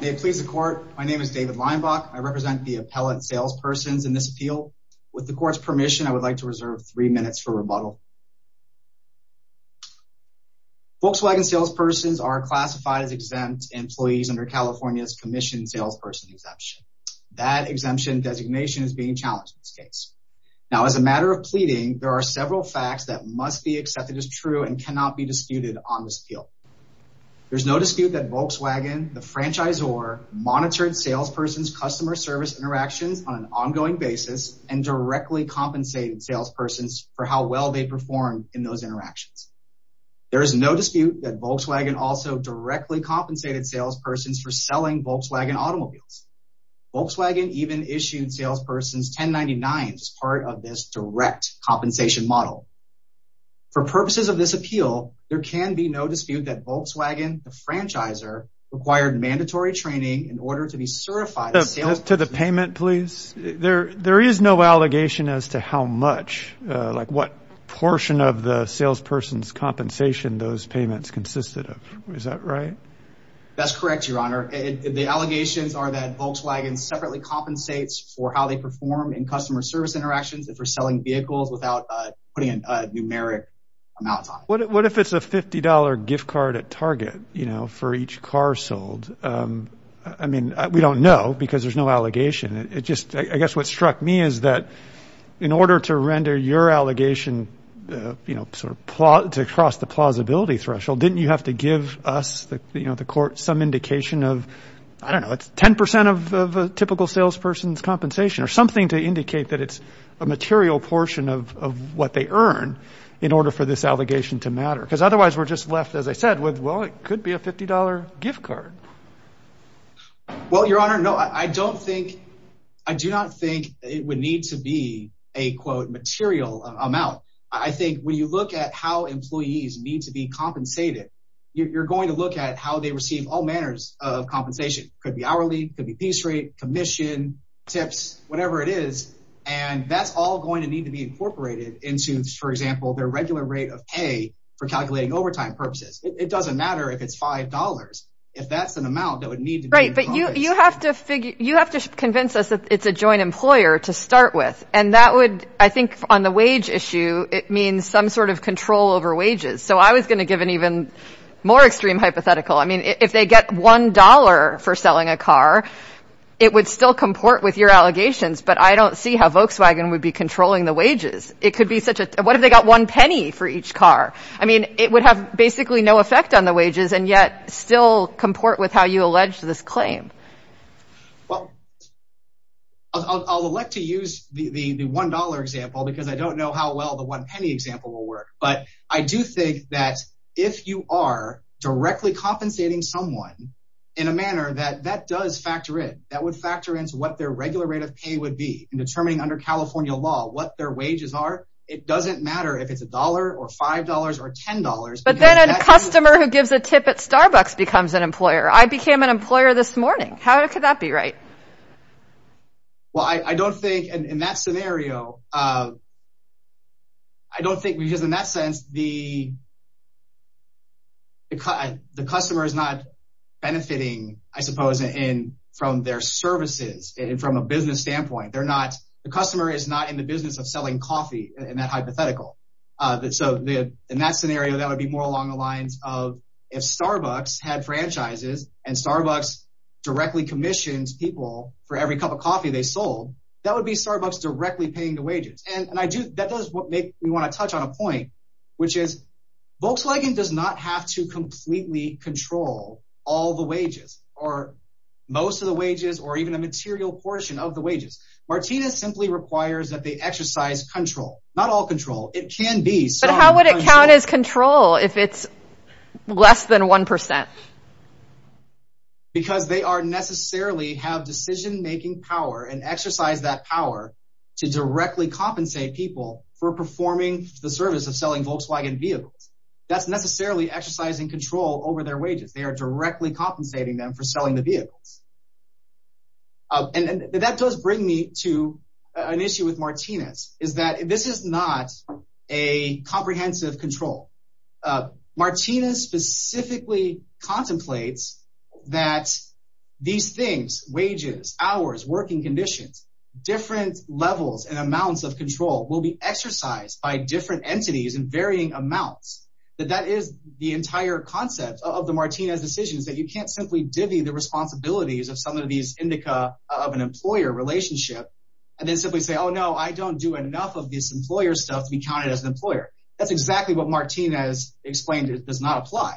may please the court. My name is David Leinbach. I represent the appellate salespersons in this appeal. With the court's permission, I would like to reserve three minutes for rebuttal. Volkswagen salespersons are classified as exempt employees under California's Commissioned Salesperson Exemption. That exemption designation is being challenged in this case. Now, as a matter of pleading, there are several facts that must be accepted as true and cannot be disputed on this appeal. There's no dispute that Volkswagen, the franchisor, monitored salespersons' customer service interactions on an ongoing basis and directly compensated salespersons for how well they performed in those interactions. There is no dispute that Volkswagen also directly compensated salespersons for selling Volkswagen automobiles. Volkswagen even issued salespersons $10.99 as part of this direct compensation model. For purposes of this appeal, there can be no dispute that Volkswagen, the franchisor, required mandatory training in order to be certified as a salesperson. To the payment, please. There is no allegation as to how much, like what portion of the salesperson's compensation those payments consisted of. Is that right? That's correct, Your Honor. The allegations are that Volkswagen separately compensates for how they perform in customer service interactions if they're selling vehicles without putting a numeric amount on it. What if it's a $50 gift card at Target for each car sold? I mean, we don't know because there's no allegation. I guess what struck me is that in order to render your allegation to cross the plausibility threshold, didn't you have to give us, the court, some indication of, I don't know, it's 10% of a typical salesperson's compensation or something to indicate that it's a material portion of what they earn in order for this allegation to matter? Because otherwise we're just left, as I said, with, well, it could be a $50 gift card. Well, Your Honor, no, I don't think, I do not think it would need to be a, quote, material amount. I think when you look at how employees need to be compensated, you're going to look at how they receive all manners of compensation. Could be hourly, could be piece rate, commission, tips, whatever it is, and that's all going to need to be incorporated into, for example, their regular rate of pay for overtime purposes. It doesn't matter if it's $5. If that's an amount that would need to be... Right, but you have to figure, you have to convince us that it's a joint employer to start with, and that would, I think, on the wage issue, it means some sort of control over wages. So I was going to give an even more extreme hypothetical. I mean, if they get $1 for selling a car, it would still comport with your allegations, but I don't see how Volkswagen would be controlling the it would have basically no effect on the wages and yet still comport with how you allege this claim. Well, I'll elect to use the $1 example because I don't know how well the one penny example will work, but I do think that if you are directly compensating someone in a manner that that does factor in, that would factor into what their regular rate of pay would be in determining under California law what their wages are. It doesn't matter if it's $1 or $5 or $10. But then a customer who gives a tip at Starbucks becomes an employer. I became an employer this morning. How could that be right? Well, I don't think in that scenario, I don't think because in that sense, the customer is not benefiting, I suppose, in from their services and from a business standpoint, they're not, the customer is not in the business of selling coffee in that area, that would be more along the lines of if Starbucks had franchises and Starbucks directly commissioned people for every cup of coffee they sold, that would be Starbucks directly paying the wages. And I do that does make me want to touch on a point, which is Volkswagen does not have to completely control all the wages, or most of the wages or even a material portion of the wages. Martinez simply requires that they exercise control, not all control, it can be. But how would it count as control if it's less than 1%? Because they are necessarily have decision making power and exercise that power to directly compensate people for performing the service of selling Volkswagen vehicles. That's necessarily exercising control over their wages, they are directly compensating them for selling the vehicles. And that does bring me to an comprehensive control. Martinez specifically contemplates that these things, wages, hours, working conditions, different levels and amounts of control will be exercised by different entities in varying amounts, that that is the entire concept of the Martinez decisions that you can't simply divvy the responsibilities of some of these indica of an employer relationship. And then simply say, Oh, no, I don't do enough of this employer stuff to be counted as an employer. That's exactly what Martinez explained, it does not apply.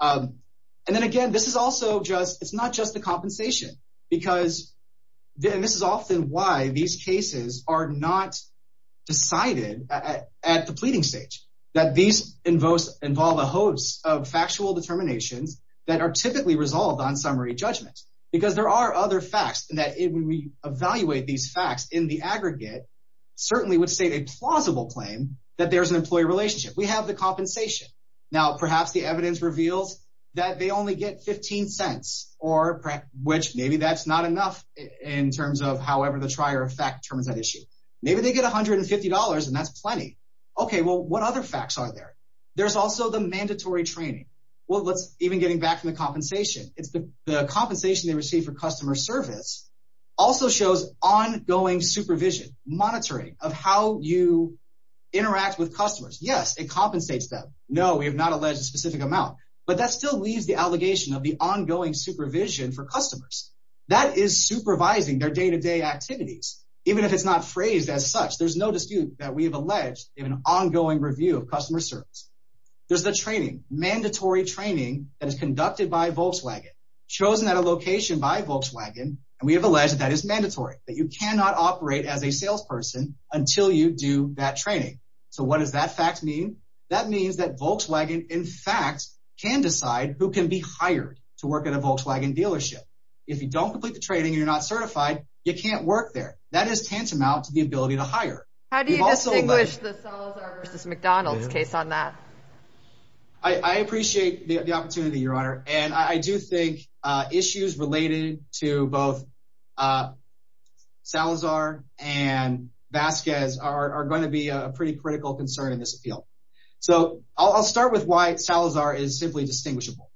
And then again, this is also just it's not just the compensation, because then this is often why these cases are not decided at the pleading stage, that these invokes involve a host of factual determinations that are typically resolved on summary judgments. Because there are other facts that we evaluate these facts in the employee relationship, we have the compensation. Now, perhaps the evidence reveals that they only get 15 cents, or perhaps which maybe that's not enough in terms of however, the trier effect terms that issue, maybe they get $150. And that's plenty. Okay, well, what other facts are there? There's also the mandatory training. Well, let's even getting back to the compensation, it's the compensation they receive for customer service, also shows ongoing supervision monitoring of how you interact with customers. Yes, it compensates them. No, we have not alleged a specific amount. But that still leaves the allegation of the ongoing supervision for customers that is supervising their day to day activities. Even if it's not phrased as such, there's no dispute that we have alleged in an ongoing review of customer service. There's the training mandatory training that is conducted by Volkswagen, chosen at a location by Volkswagen. And we have alleged that is operate as a salesperson until you do that training. So what does that fact mean? That means that Volkswagen, in fact, can decide who can be hired to work at a Volkswagen dealership. If you don't complete the training, you're not certified, you can't work there. That is tantamount to the ability to hire. How do you distinguish the Salazar vs. McDonald's case on that? I appreciate the opportunity, Your Honor. And I do think issues related to both Salazar and Vasquez are going to be a pretty critical concern in this field. So I'll start with why Salazar is simply distinguishable.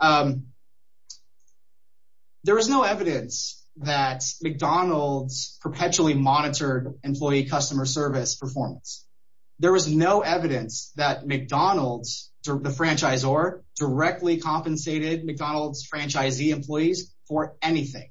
There is no evidence that McDonald's perpetually monitored employee customer service performance. There was no evidence that McDonald's, the franchisor, directly compensated McDonald's franchisee employees for anything.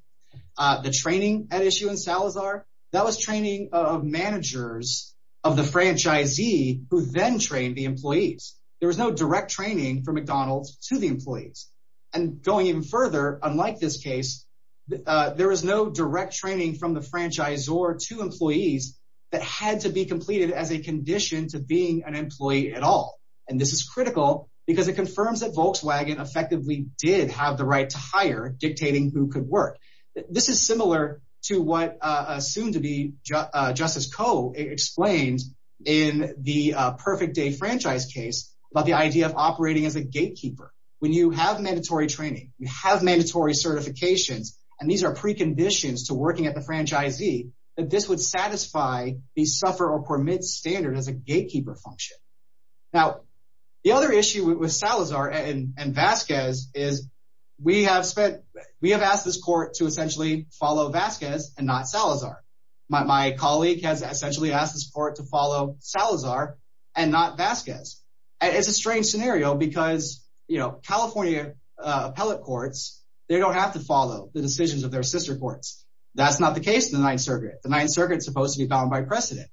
The training at issue in Salazar, that was training of managers of the franchisee who then trained the employees. There was no direct training from McDonald's to the employees. And going even further, unlike this case, there was no direct training from the franchisor to employees that had to be completed as a condition to being an employee at all. And this is critical because it confirms that Volkswagen effectively did have the right to hire dictating who could work. This is similar to what soon to be Justice Koh explained in the Perfect Day franchise case about the idea of operating as a gatekeeper. When you have mandatory training, you have mandatory certifications, and these are preconditions to working at the franchisee, that this would satisfy the suffer or permit standard as a gatekeeper function. Now, the other issue with Salazar and Vasquez is we have spent, we have asked this court to essentially follow Vasquez and not Salazar. My colleague has essentially asked this court to follow Salazar and not Vasquez. It's a strange scenario because, you know, California appellate courts, they don't have to follow the decisions of their sister courts. That's not the case in the Ninth Circuit. The Ninth Circuit is supposed to be bound by precedent.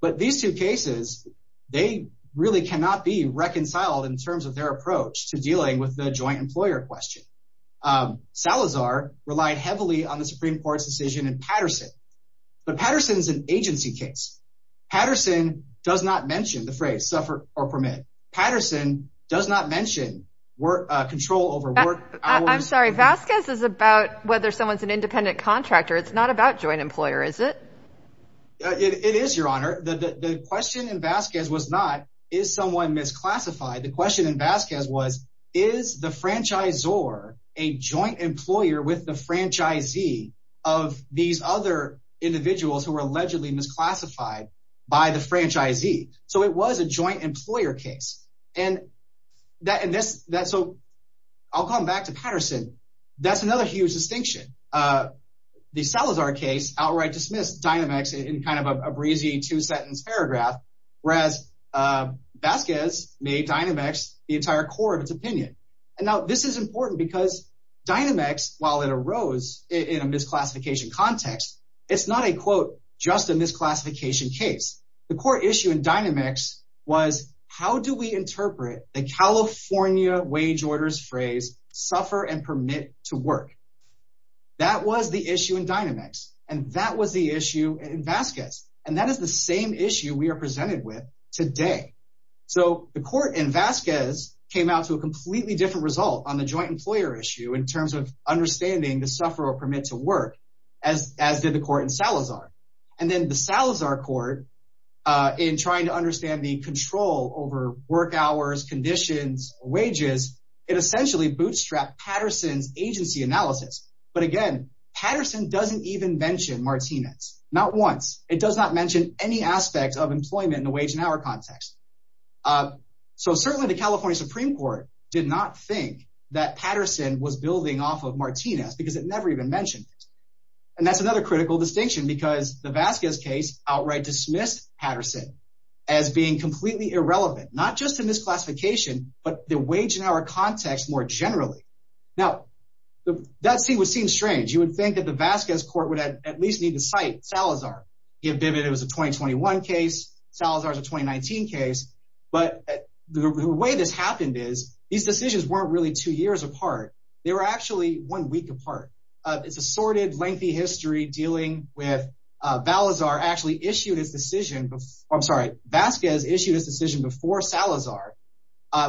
But these two cases, they really cannot be reconciled in terms of their approach to dealing with the joint employer question. Salazar relied heavily on the Supreme Court's decision in Patterson. But Patterson is an agency case. Patterson does not mention the phrase suffer or permit. Patterson does not mention control over work. I'm sorry, Vasquez is about whether someone's an independent contractor. It's not about joint employer, is it? It is, Your Honor. The question in that is someone misclassified? The question in Vasquez was, is the franchisor a joint employer with the franchisee of these other individuals who were allegedly misclassified by the franchisee? So it was a joint employer case. And that, and this, that, so I'll come back to Patterson. That's another huge distinction. The Salazar case outright dismissed Dynamex in kind of a breezy two-sentence paragraph, whereas Vasquez made Dynamex the entire core of its opinion. And now this is important because Dynamex, while it arose in a misclassification context, it's not a, quote, just a misclassification case. The core issue in Dynamex was how do we interpret the California wage orders phrase suffer and permit to work? That was the issue in Dynamex. And that was the issue in Vasquez. And that is the same issue we are presented with today. So the court in Vasquez came out to a completely different result on the joint employer issue in terms of understanding the suffer or permit to work as, as did the court in Salazar. And then the Salazar court in trying to understand the control over work hours, conditions, wages, it essentially bootstrapped Patterson's agency analysis. But again, Patterson doesn't even mention Martinez, not once. It does not mention any aspects of employment in the wage and hour context. So certainly the California Supreme Court did not think that Patterson was building off of Martinez because it never even mentioned. And that's another critical distinction because the Vasquez case outright dismissed Patterson as being completely irrelevant, not just in this That would seem strange, you would think that the Vasquez court would at least need to cite Salazar. He admitted it was a 2021 case, Salazar's a 2019 case. But the way this happened is these decisions weren't really two years apart. They were actually one week apart. It's a sordid lengthy history dealing with Valazar actually issued his decision before, I'm sorry, Vasquez issued his decision before Salazar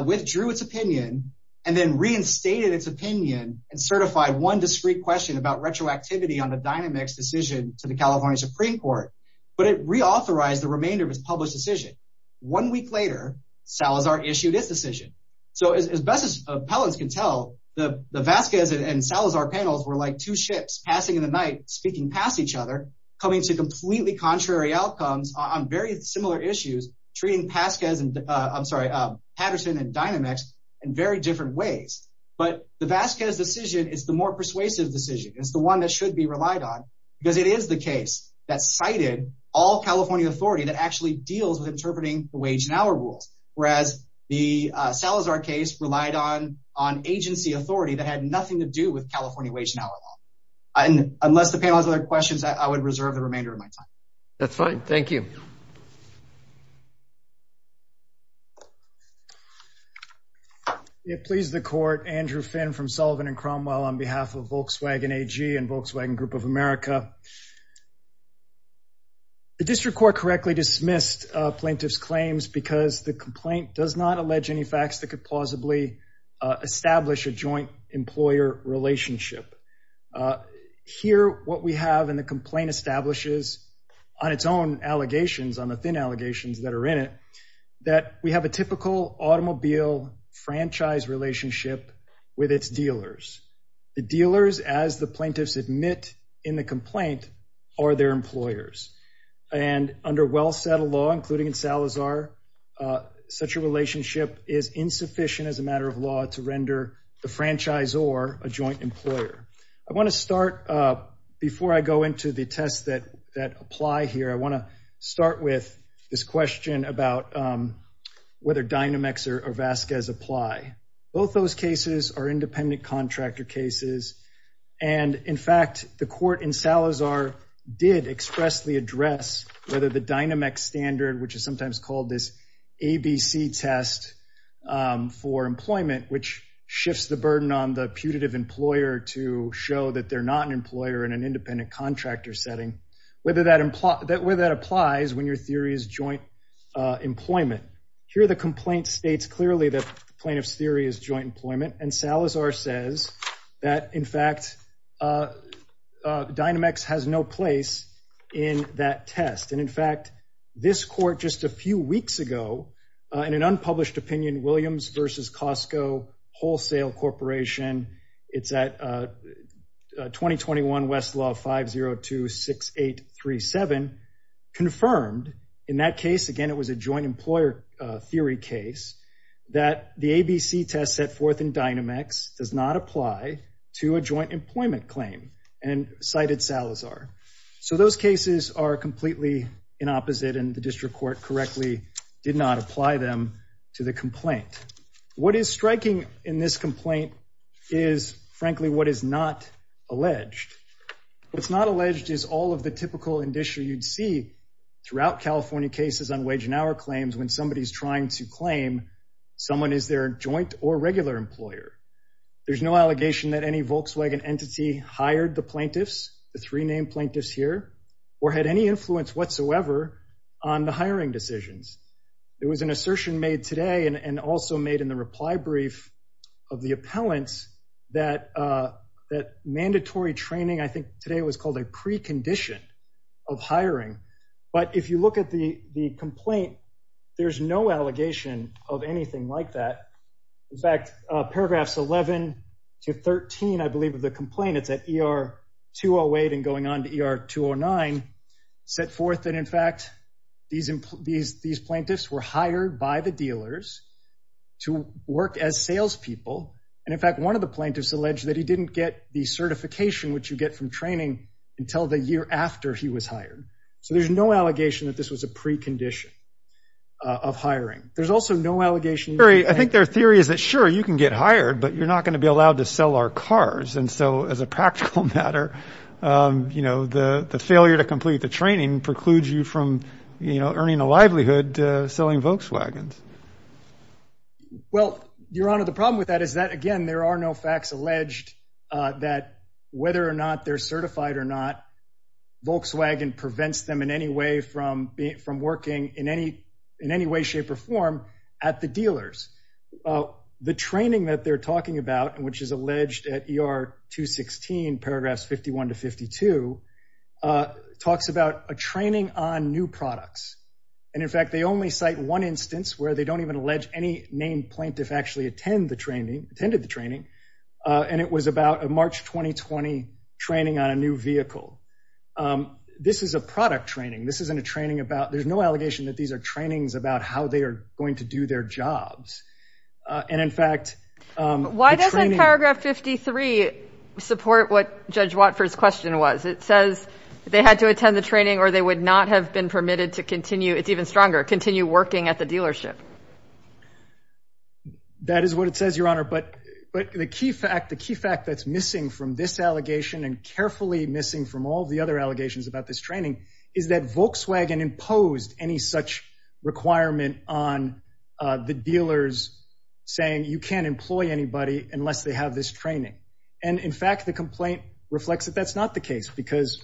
withdrew its opinion, and then reinstated its opinion and certified one discreet question about retroactivity on the dynamics decision to the California Supreme Court. But it reauthorized the remainder of his published decision. One week later, Salazar issued his decision. So as best as appellants can tell, the Vasquez and Salazar panels were like two ships passing in the night speaking past each other, coming to completely contrary outcomes on very similar issues, treating Pasquez and I'm sorry, Patterson and dynamics in very different ways. But the Vasquez decision is the more persuasive decision is the one that should be relied on, because it is the case that cited all California authority that actually deals with interpreting the wage and hour rules, whereas the Salazar case relied on on agency authority that had nothing to do with California wage and hour law. And unless the panel has other questions, I would reserve the remainder of my time. That's fine. Thank you. It pleased the court. Andrew Finn from Sullivan and Cromwell on behalf of Volkswagen AG and Volkswagen Group of America. The district court correctly dismissed plaintiff's claims because the complaint does not allege any facts that could plausibly establish a joint employer relationship. Here, what we have in the complaint establishes on its own allegations on the thin allegations that are in it, that we have a typical automobile franchise relationship with its dealers. The dealers, as the plaintiffs admit in the complaint, are their employers. And under well settled law, including in Salazar, such a relationship is insufficient as a matter of law to render the franchise or a joint employer. I want to start before I go into the tests that that apply here. I want to start with this question about whether Dynamex or Vasquez apply. Both those cases are independent contractor cases. And in fact, the court in Salazar did expressly address whether the Dynamex standard, which is sometimes called this ABC test for employment, which shifts the burden on the putative employer to show that they're not an employer in an independent contractor setting, whether that implies that where that applies when your theory is joint employment. Here, the complaint states clearly that plaintiff's theory is joint employment. And Salazar says that, in fact, Dynamex has no place in that test. And in fact, this court just a few weeks ago, in an unpublished opinion, Williams versus Costco Wholesale Corporation. It's at 2021 Westlaw 5026837 confirmed in that case. Again, it was a joint employer theory case that the ABC test set forth in Dynamex does not apply to a joint employment claim and cited Salazar. So those cases are completely in opposite, and the district court correctly did not apply them to the complaint. What is striking in this complaint is, frankly, what is not alleged. What's not alleged is all of the typical indiction you'd see throughout California cases on wage and hour claims when somebody is trying to claim someone is their joint or regular employer. There's no allegation that any Volkswagen entity hired the plaintiffs, the three named plaintiffs here, or had any influence whatsoever on the hiring decisions. There was an assertion made today and also made in the reply brief of the appellants that mandatory training, I think today it was called a precondition of hiring. But if you look at the complaint, there's no allegation of anything like that. In fact, paragraphs 11 to 13, I believe, of the complaint, it's at ER 208 and going on to ER 209, set forth that, in fact, these plaintiffs were hired by the dealers to work as salespeople. And in fact, one of the plaintiffs alleged that he didn't get the certification which you get from training until the year after he was hired. So there's no allegation that this was a precondition of hiring. There's also no allegation. I think their theory is that, sure, you can get hired, but you're not going to be allowed to sell our cars. And so, as a practical matter, you know, the failure to complete the training precludes you from, you know, earning a livelihood selling Volkswagens. Well, Your Honor, the problem with that is that, again, there are no facts alleged that whether or not they're certified or not, Volkswagen prevents them in any way from working in any way, shape or form at the dealers. The training that they're talking about, which is alleged at ER 216, paragraphs 51 to 52, talks about a training on new products. And in fact, they only cite one instance where they don't even allege any named plaintiff actually attended the training. And it was about a March 2020 training on a new vehicle. This is a product training. This isn't a training about, there's no allegation that these are trainings about how they are going to do their jobs. And in fact, Why doesn't paragraph 53 support what Judge Watford's question was? It says they had to attend the training or they would not have been permitted to continue, it's even stronger, continue working at the dealership. That is what it says, Your Honor. But the key fact that's missing from this allegation and carefully missing from all the other allegations about this requirement on the dealers saying you can't employ anybody unless they have this training. And in fact, the complaint reflects that that's not the case because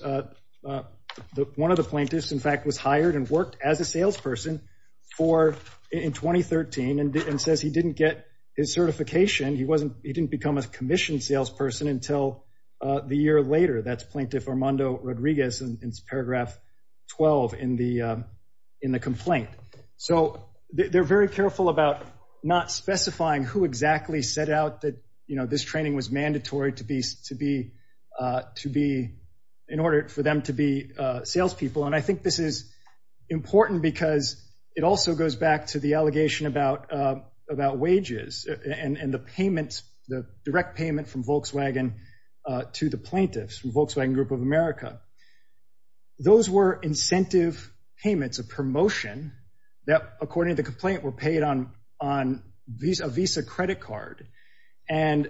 one of the plaintiffs, in fact, was hired and worked as a salesperson for in 2013 and says he didn't get his certification. He wasn't, he didn't become a commissioned salesperson until the year later. That's Plaintiff Armando Rodriguez and it's paragraph 12 in the in the complaint. So they're very careful about not specifying who exactly set out that, you know, this training was mandatory to be in order for them to be salespeople. And I think this is important because it also goes back to the allegation about wages and the payments, the direct payment from Volkswagen Group of America. Those were incentive payments, a promotion that according to the complaint were paid on a Visa credit card. And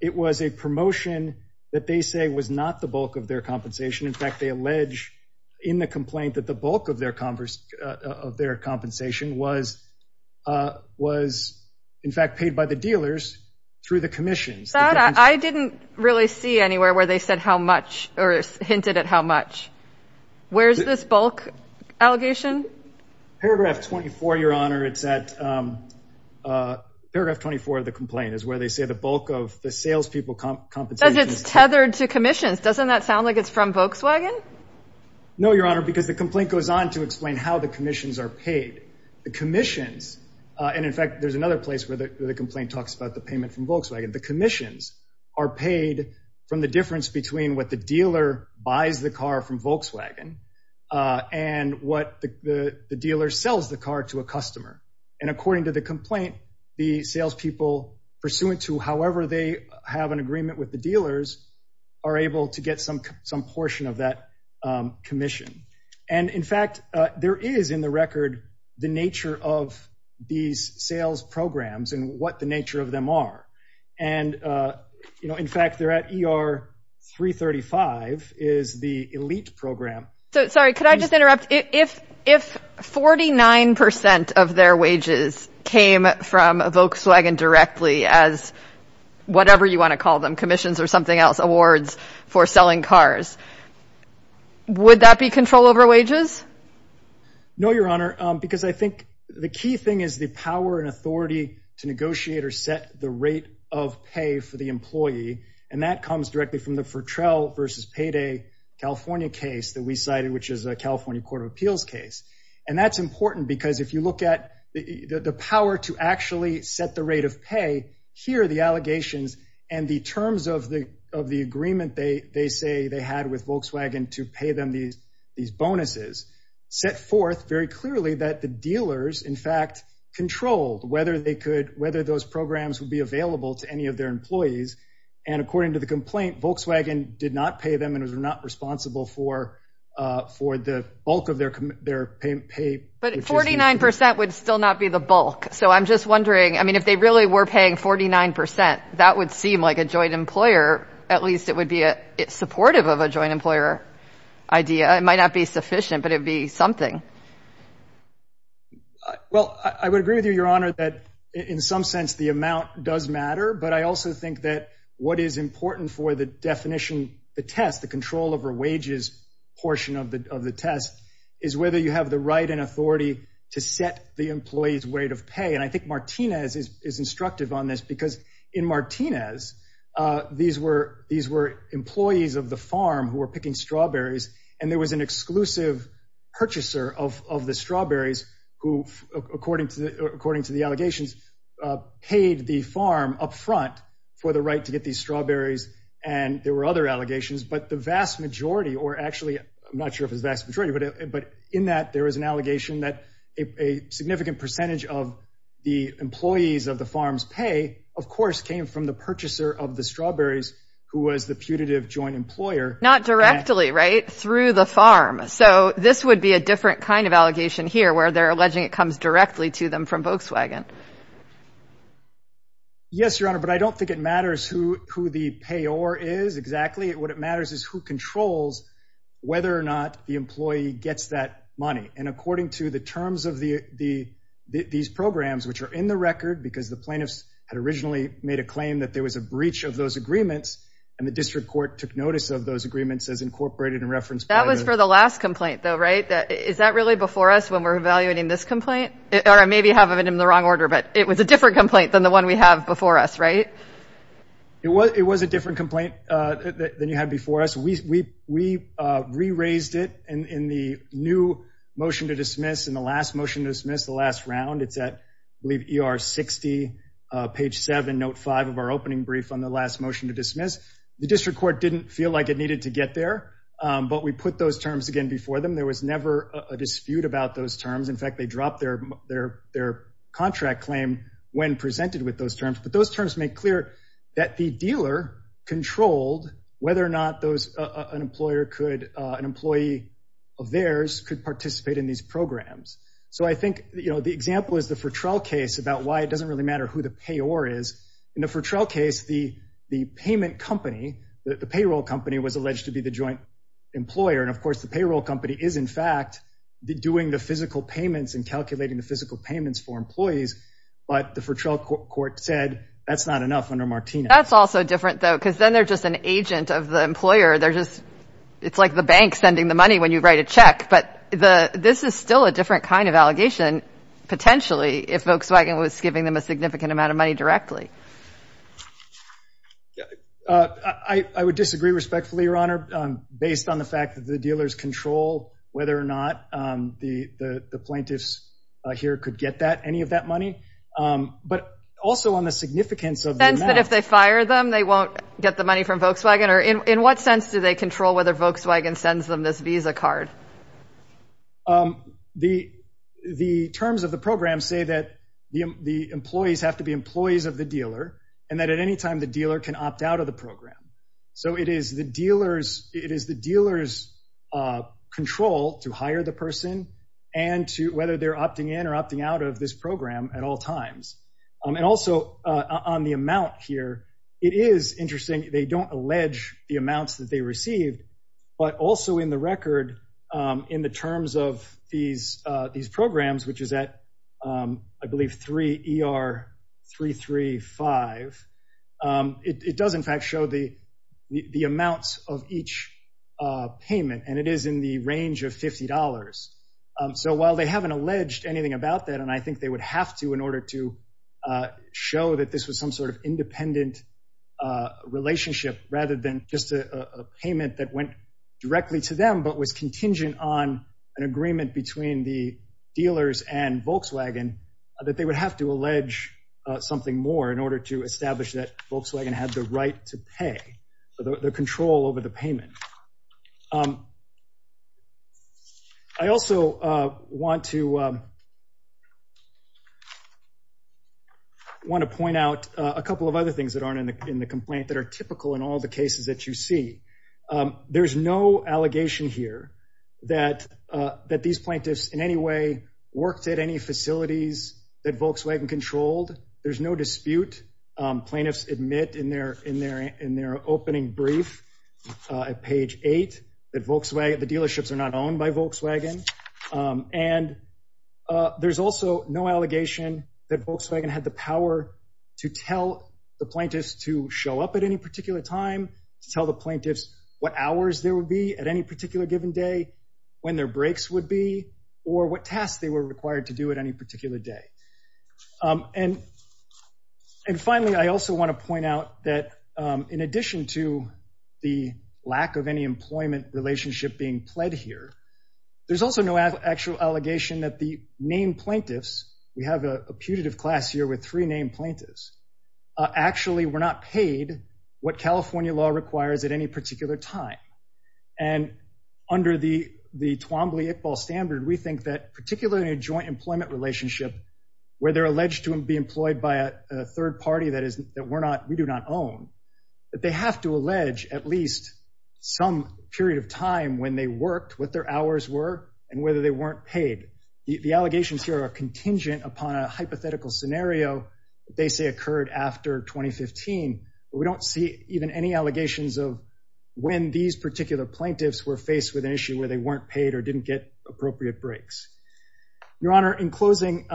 it was a promotion that they say was not the bulk of their compensation. In fact, they allege in the complaint that the bulk of their conversation of their compensation was, was in fact paid by the dealers through the commissions. I didn't really see anywhere where they said how much or hinted at how much. Where's this bulk allegation? Paragraph 24, Your Honor, it's at paragraph 24 of the complaint is where they say the bulk of the salespeople compensation. It's tethered to commissions. Doesn't that sound like it's from Volkswagen? No, Your Honor, because the complaint goes on to explain how the commissions are paid. The commissions, and in fact there's another place where the complaint talks about the payment from Volkswagen, the commissions are paid from the difference between what the dealer buys the car from Volkswagen and what the dealer sells the car to a customer. And according to the complaint, the salespeople, pursuant to however they have an agreement with the dealers, are able to get some, some portion of that commission. And in fact, there is in the And, you know, in fact, they're at ER 335 is the elite program. So, sorry, could I just interrupt? If, if 49% of their wages came from a Volkswagen directly as whatever you want to call them, commissions or something else, awards for selling cars, would that be control over wages? No, Your Honor, because I think the rate of pay for the employee, and that comes directly from the Fertrell versus payday California case that we cited, which is a California court of appeals case. And that's important because if you look at the power to actually set the rate of pay here, the allegations and the terms of the, of the agreement they, they say they had with Volkswagen to pay them these, these bonuses set forth very those programs would be available to any of their employees. And according to the complaint, Volkswagen did not pay them and was not responsible for, for the bulk of their, their pay. But 49% would still not be the bulk. So I'm just wondering, I mean, if they really were paying 49%, that would seem like a joint employer, at least it would be a supportive of a joint employer idea. It might not be sufficient, but it'd be something. Well, I would agree with you, Your Honor, that in some sense, the amount does matter. But I also think that what is important for the definition, the test, the control over wages portion of the test is whether you have the right and authority to set the employee's rate of pay. And I think Martinez is instructive on this because in Martinez, these were, these were employees of the farm who were of the strawberries, who, according to the, according to the allegations, paid the farm upfront for the right to get these strawberries. And there were other allegations, but the vast majority, or actually, I'm not sure if it's vast majority, but, but in that there was an allegation that a significant percentage of the employees of the farms pay, of course, came from the purchaser of the strawberries, who was the putative joint employer. Not directly, right? Through the farm. So this would be a different kind of allegation here where they're alleging it comes directly to them from Volkswagen. Yes, Your Honor, but I don't think it matters who, who the payor is exactly. What matters is who controls whether or not the employee gets that money. And according to the terms of the, the, these programs, which are in the record, because the plaintiffs had originally made a claim that there was a breach of those agreements, and the district court took notice of those agreements as incorporated in reference. That was for the last complaint, though, right? Is that really before us when we're evaluating this complaint? Or I maybe have it in the wrong order, but it was a different complaint than the one we have before us, right? It was, it was a different complaint than you had before us. We, we, we re-raised it in, in the new motion to dismiss, in the last motion to dismiss, the last round. It's at, I believe, ER 60, page seven, note five of our opening brief on the last motion to dismiss. The district court didn't feel like it needed to get there, but we put those terms again before them. There was never a dispute about those terms. In fact, they dropped their, their, their contract claim when presented with those terms. But those terms make clear that the dealer controlled whether or not those, an employer could, an employee of theirs could participate in these programs. So I think, you know, the example is the Fertrell case about why it doesn't really matter who the payor is. In the Fertrell case, the, the payment company, the payroll company, was alleged to be the joint employer. And of course, the payroll company is, in fact, doing the physical payments and calculating the physical payments for employees. But the Fertrell court said, that's not enough under Martinez. That's also different though, because then they're just an agent of the employer. They're just, it's like the bank sending the money when you write a check. But the, this is still a different kind of allegation, potentially, if Volkswagen was giving them a significant amount of money directly. I would disagree respectfully, Your Honor, based on the fact that the dealers control whether or not the, the plaintiffs here could get that, any of that money. But also on the significance of the amount. In the sense that if they fire them, they won't get the money from Volkswagen? Or in what sense do they control whether Volkswagen sends them this visa card? The, the terms of the program say that the employees have to be employees of the dealer, and that at any time the dealer can opt out of the program. So it is the dealer's, it is the dealer's control to hire the person, and to whether they're opting in or opting out of this program at all times. And also on the amount here, it is interesting, they don't allege the amounts that they received. But also in the record, in the terms of these, these programs, which is at, I believe, 3 ER 335. It does, in fact, show the, the amounts of each payment, and it is in the range of $50. So while they haven't alleged anything about that, and I think they would have to in order to show that this was some sort of payment that went directly to them, but was contingent on an agreement between the dealers and Volkswagen, that they would have to allege something more in order to establish that Volkswagen had the right to pay, the control over the payment. I also want to, want to point out a couple of other things that aren't in the complaint that are typical in all the cases that you see. There's no allegation here that, that these plaintiffs in any way worked at any facilities that Volkswagen controlled. There's no dispute. Plaintiffs admit in their, in their, in their opening brief, at page eight, that Volkswagen, the dealerships are not owned by Volkswagen. And there's also no allegation that plaintiffs to show up at any particular time, to tell the plaintiffs what hours there would be at any particular given day, when their breaks would be, or what tasks they were required to do at any particular day. And, and finally, I also want to point out that in addition to the lack of any employment relationship being pled here, there's also no actual allegation that the main plaintiffs, we have a putative class here with three named plaintiffs, actually were not paid what California law requires at any particular time. And under the, the Twombly-Iqbal standard, we think that particularly in a joint employment relationship, where they're alleged to be employed by a third party that is, that we're not, we do not own, that they have to allege at least some period of time when they worked, what their hours were, and whether they weren't paid. The hypothetical scenario, they say occurred after 2015, but we don't see even any allegations of when these particular plaintiffs were faced with an issue where they weren't paid or didn't get appropriate breaks. Your Honor, in closing,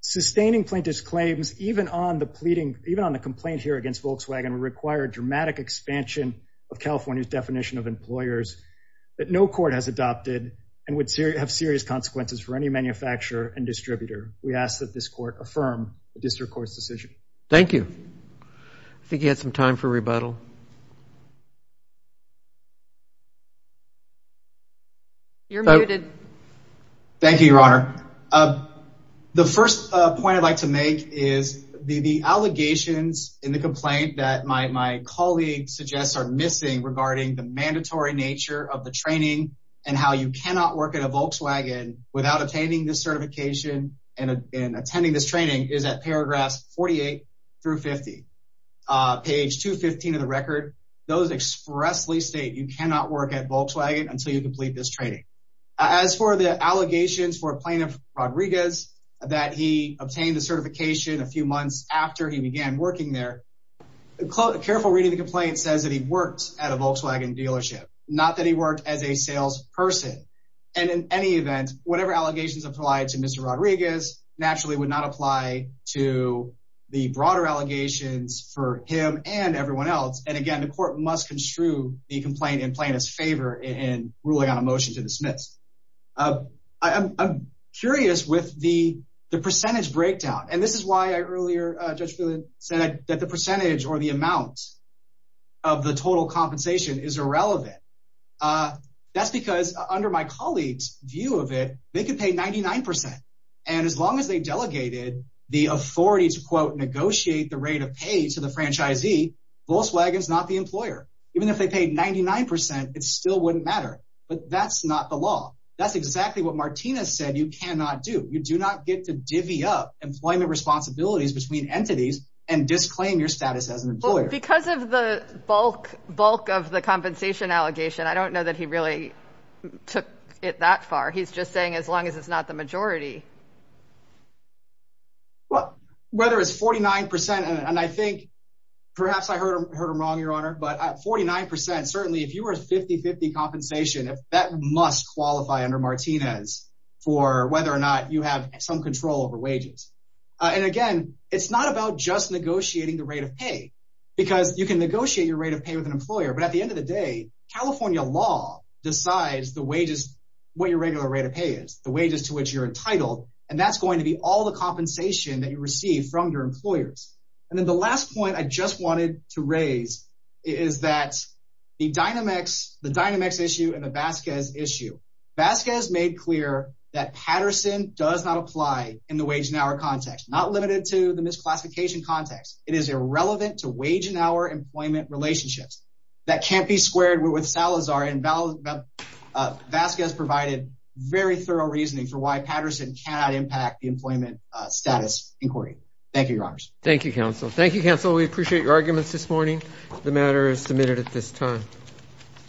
sustaining plaintiff's claims, even on the pleading, even on the complaint here against Volkswagen, would require a dramatic expansion of California's definition of employers that no court has adopted and would have serious consequences for any manufacturer and distributor. We ask that this court affirm the district court's decision. Thank you. I think he had some time for rebuttal. You're muted. Thank you, Your Honor. The first point I'd like to make is the allegations in the complaint that my colleague suggests are missing regarding the mandatory nature of the training and how you cannot work at a Volkswagen without attaining this certification and attending this training is at paragraphs 48 through 50. Page 215 of the record, those expressly state you cannot work at Volkswagen until you complete this training. As for the allegations for Plaintiff Rodriguez that he obtained the certification a few months after he began working there, a careful reading of the complaint says that he worked at a Volkswagen dealership, not that he worked as a sales person. And in any event, whatever allegations applied to Mr. Rodriguez naturally would not apply to the broader allegations for him and everyone else. And again, the court must construe the complaint in plaintiff's favor in ruling on a motion to dismiss. I'm curious with the percentage breakdown, and this is why I earlier, Judge said that the percentage or the amount of the total compensation is irrelevant. Uh, that's because under my colleagues view of it, they could pay 99%. And as long as they delegated the authority to, quote, negotiate the rate of pay to the franchisee, Volkswagen is not the employer. Even if they paid 99% it still wouldn't matter. But that's not the law. That's exactly what Martina said. You cannot do. You do not get to divvy up employment responsibilities between entities and disclaim your status as an employer because of the bulk bulk of the compensation allegation. I don't know that he really took it that far. He's just saying, as long as it's not the majority, well, whether it's 49% and I think perhaps I heard him heard him wrong, Your Honor. But 49% certainly if you were 50 50 compensation, if that must qualify under Martinez for whether or not you have some control over wages and again, it's not about just negotiating the rate of pay because you can negotiate your rate of pay with an employer. But at the end of the day, California law decides the wages, what your regular rate of pay is, the wages to which you're entitled. And that's going to be all the compensation that you receive from your employers. And then the last point I just wanted to raise is that the dynamics, the dynamics issue in the Vasquez issue, Vasquez made clear that Patterson does not apply in the wage and hour context, not limited to the misclassification context. It is irrelevant to wage and hour employment relationships that can't be squared with Salazar. And Vasquez provided very thorough reasoning for why Patterson cannot impact the employment status inquiry. Thank you, Your Honors. Thank you, Counsel. Thank you, Counsel. We appreciate your arguments this morning. The matter is submitted at this time.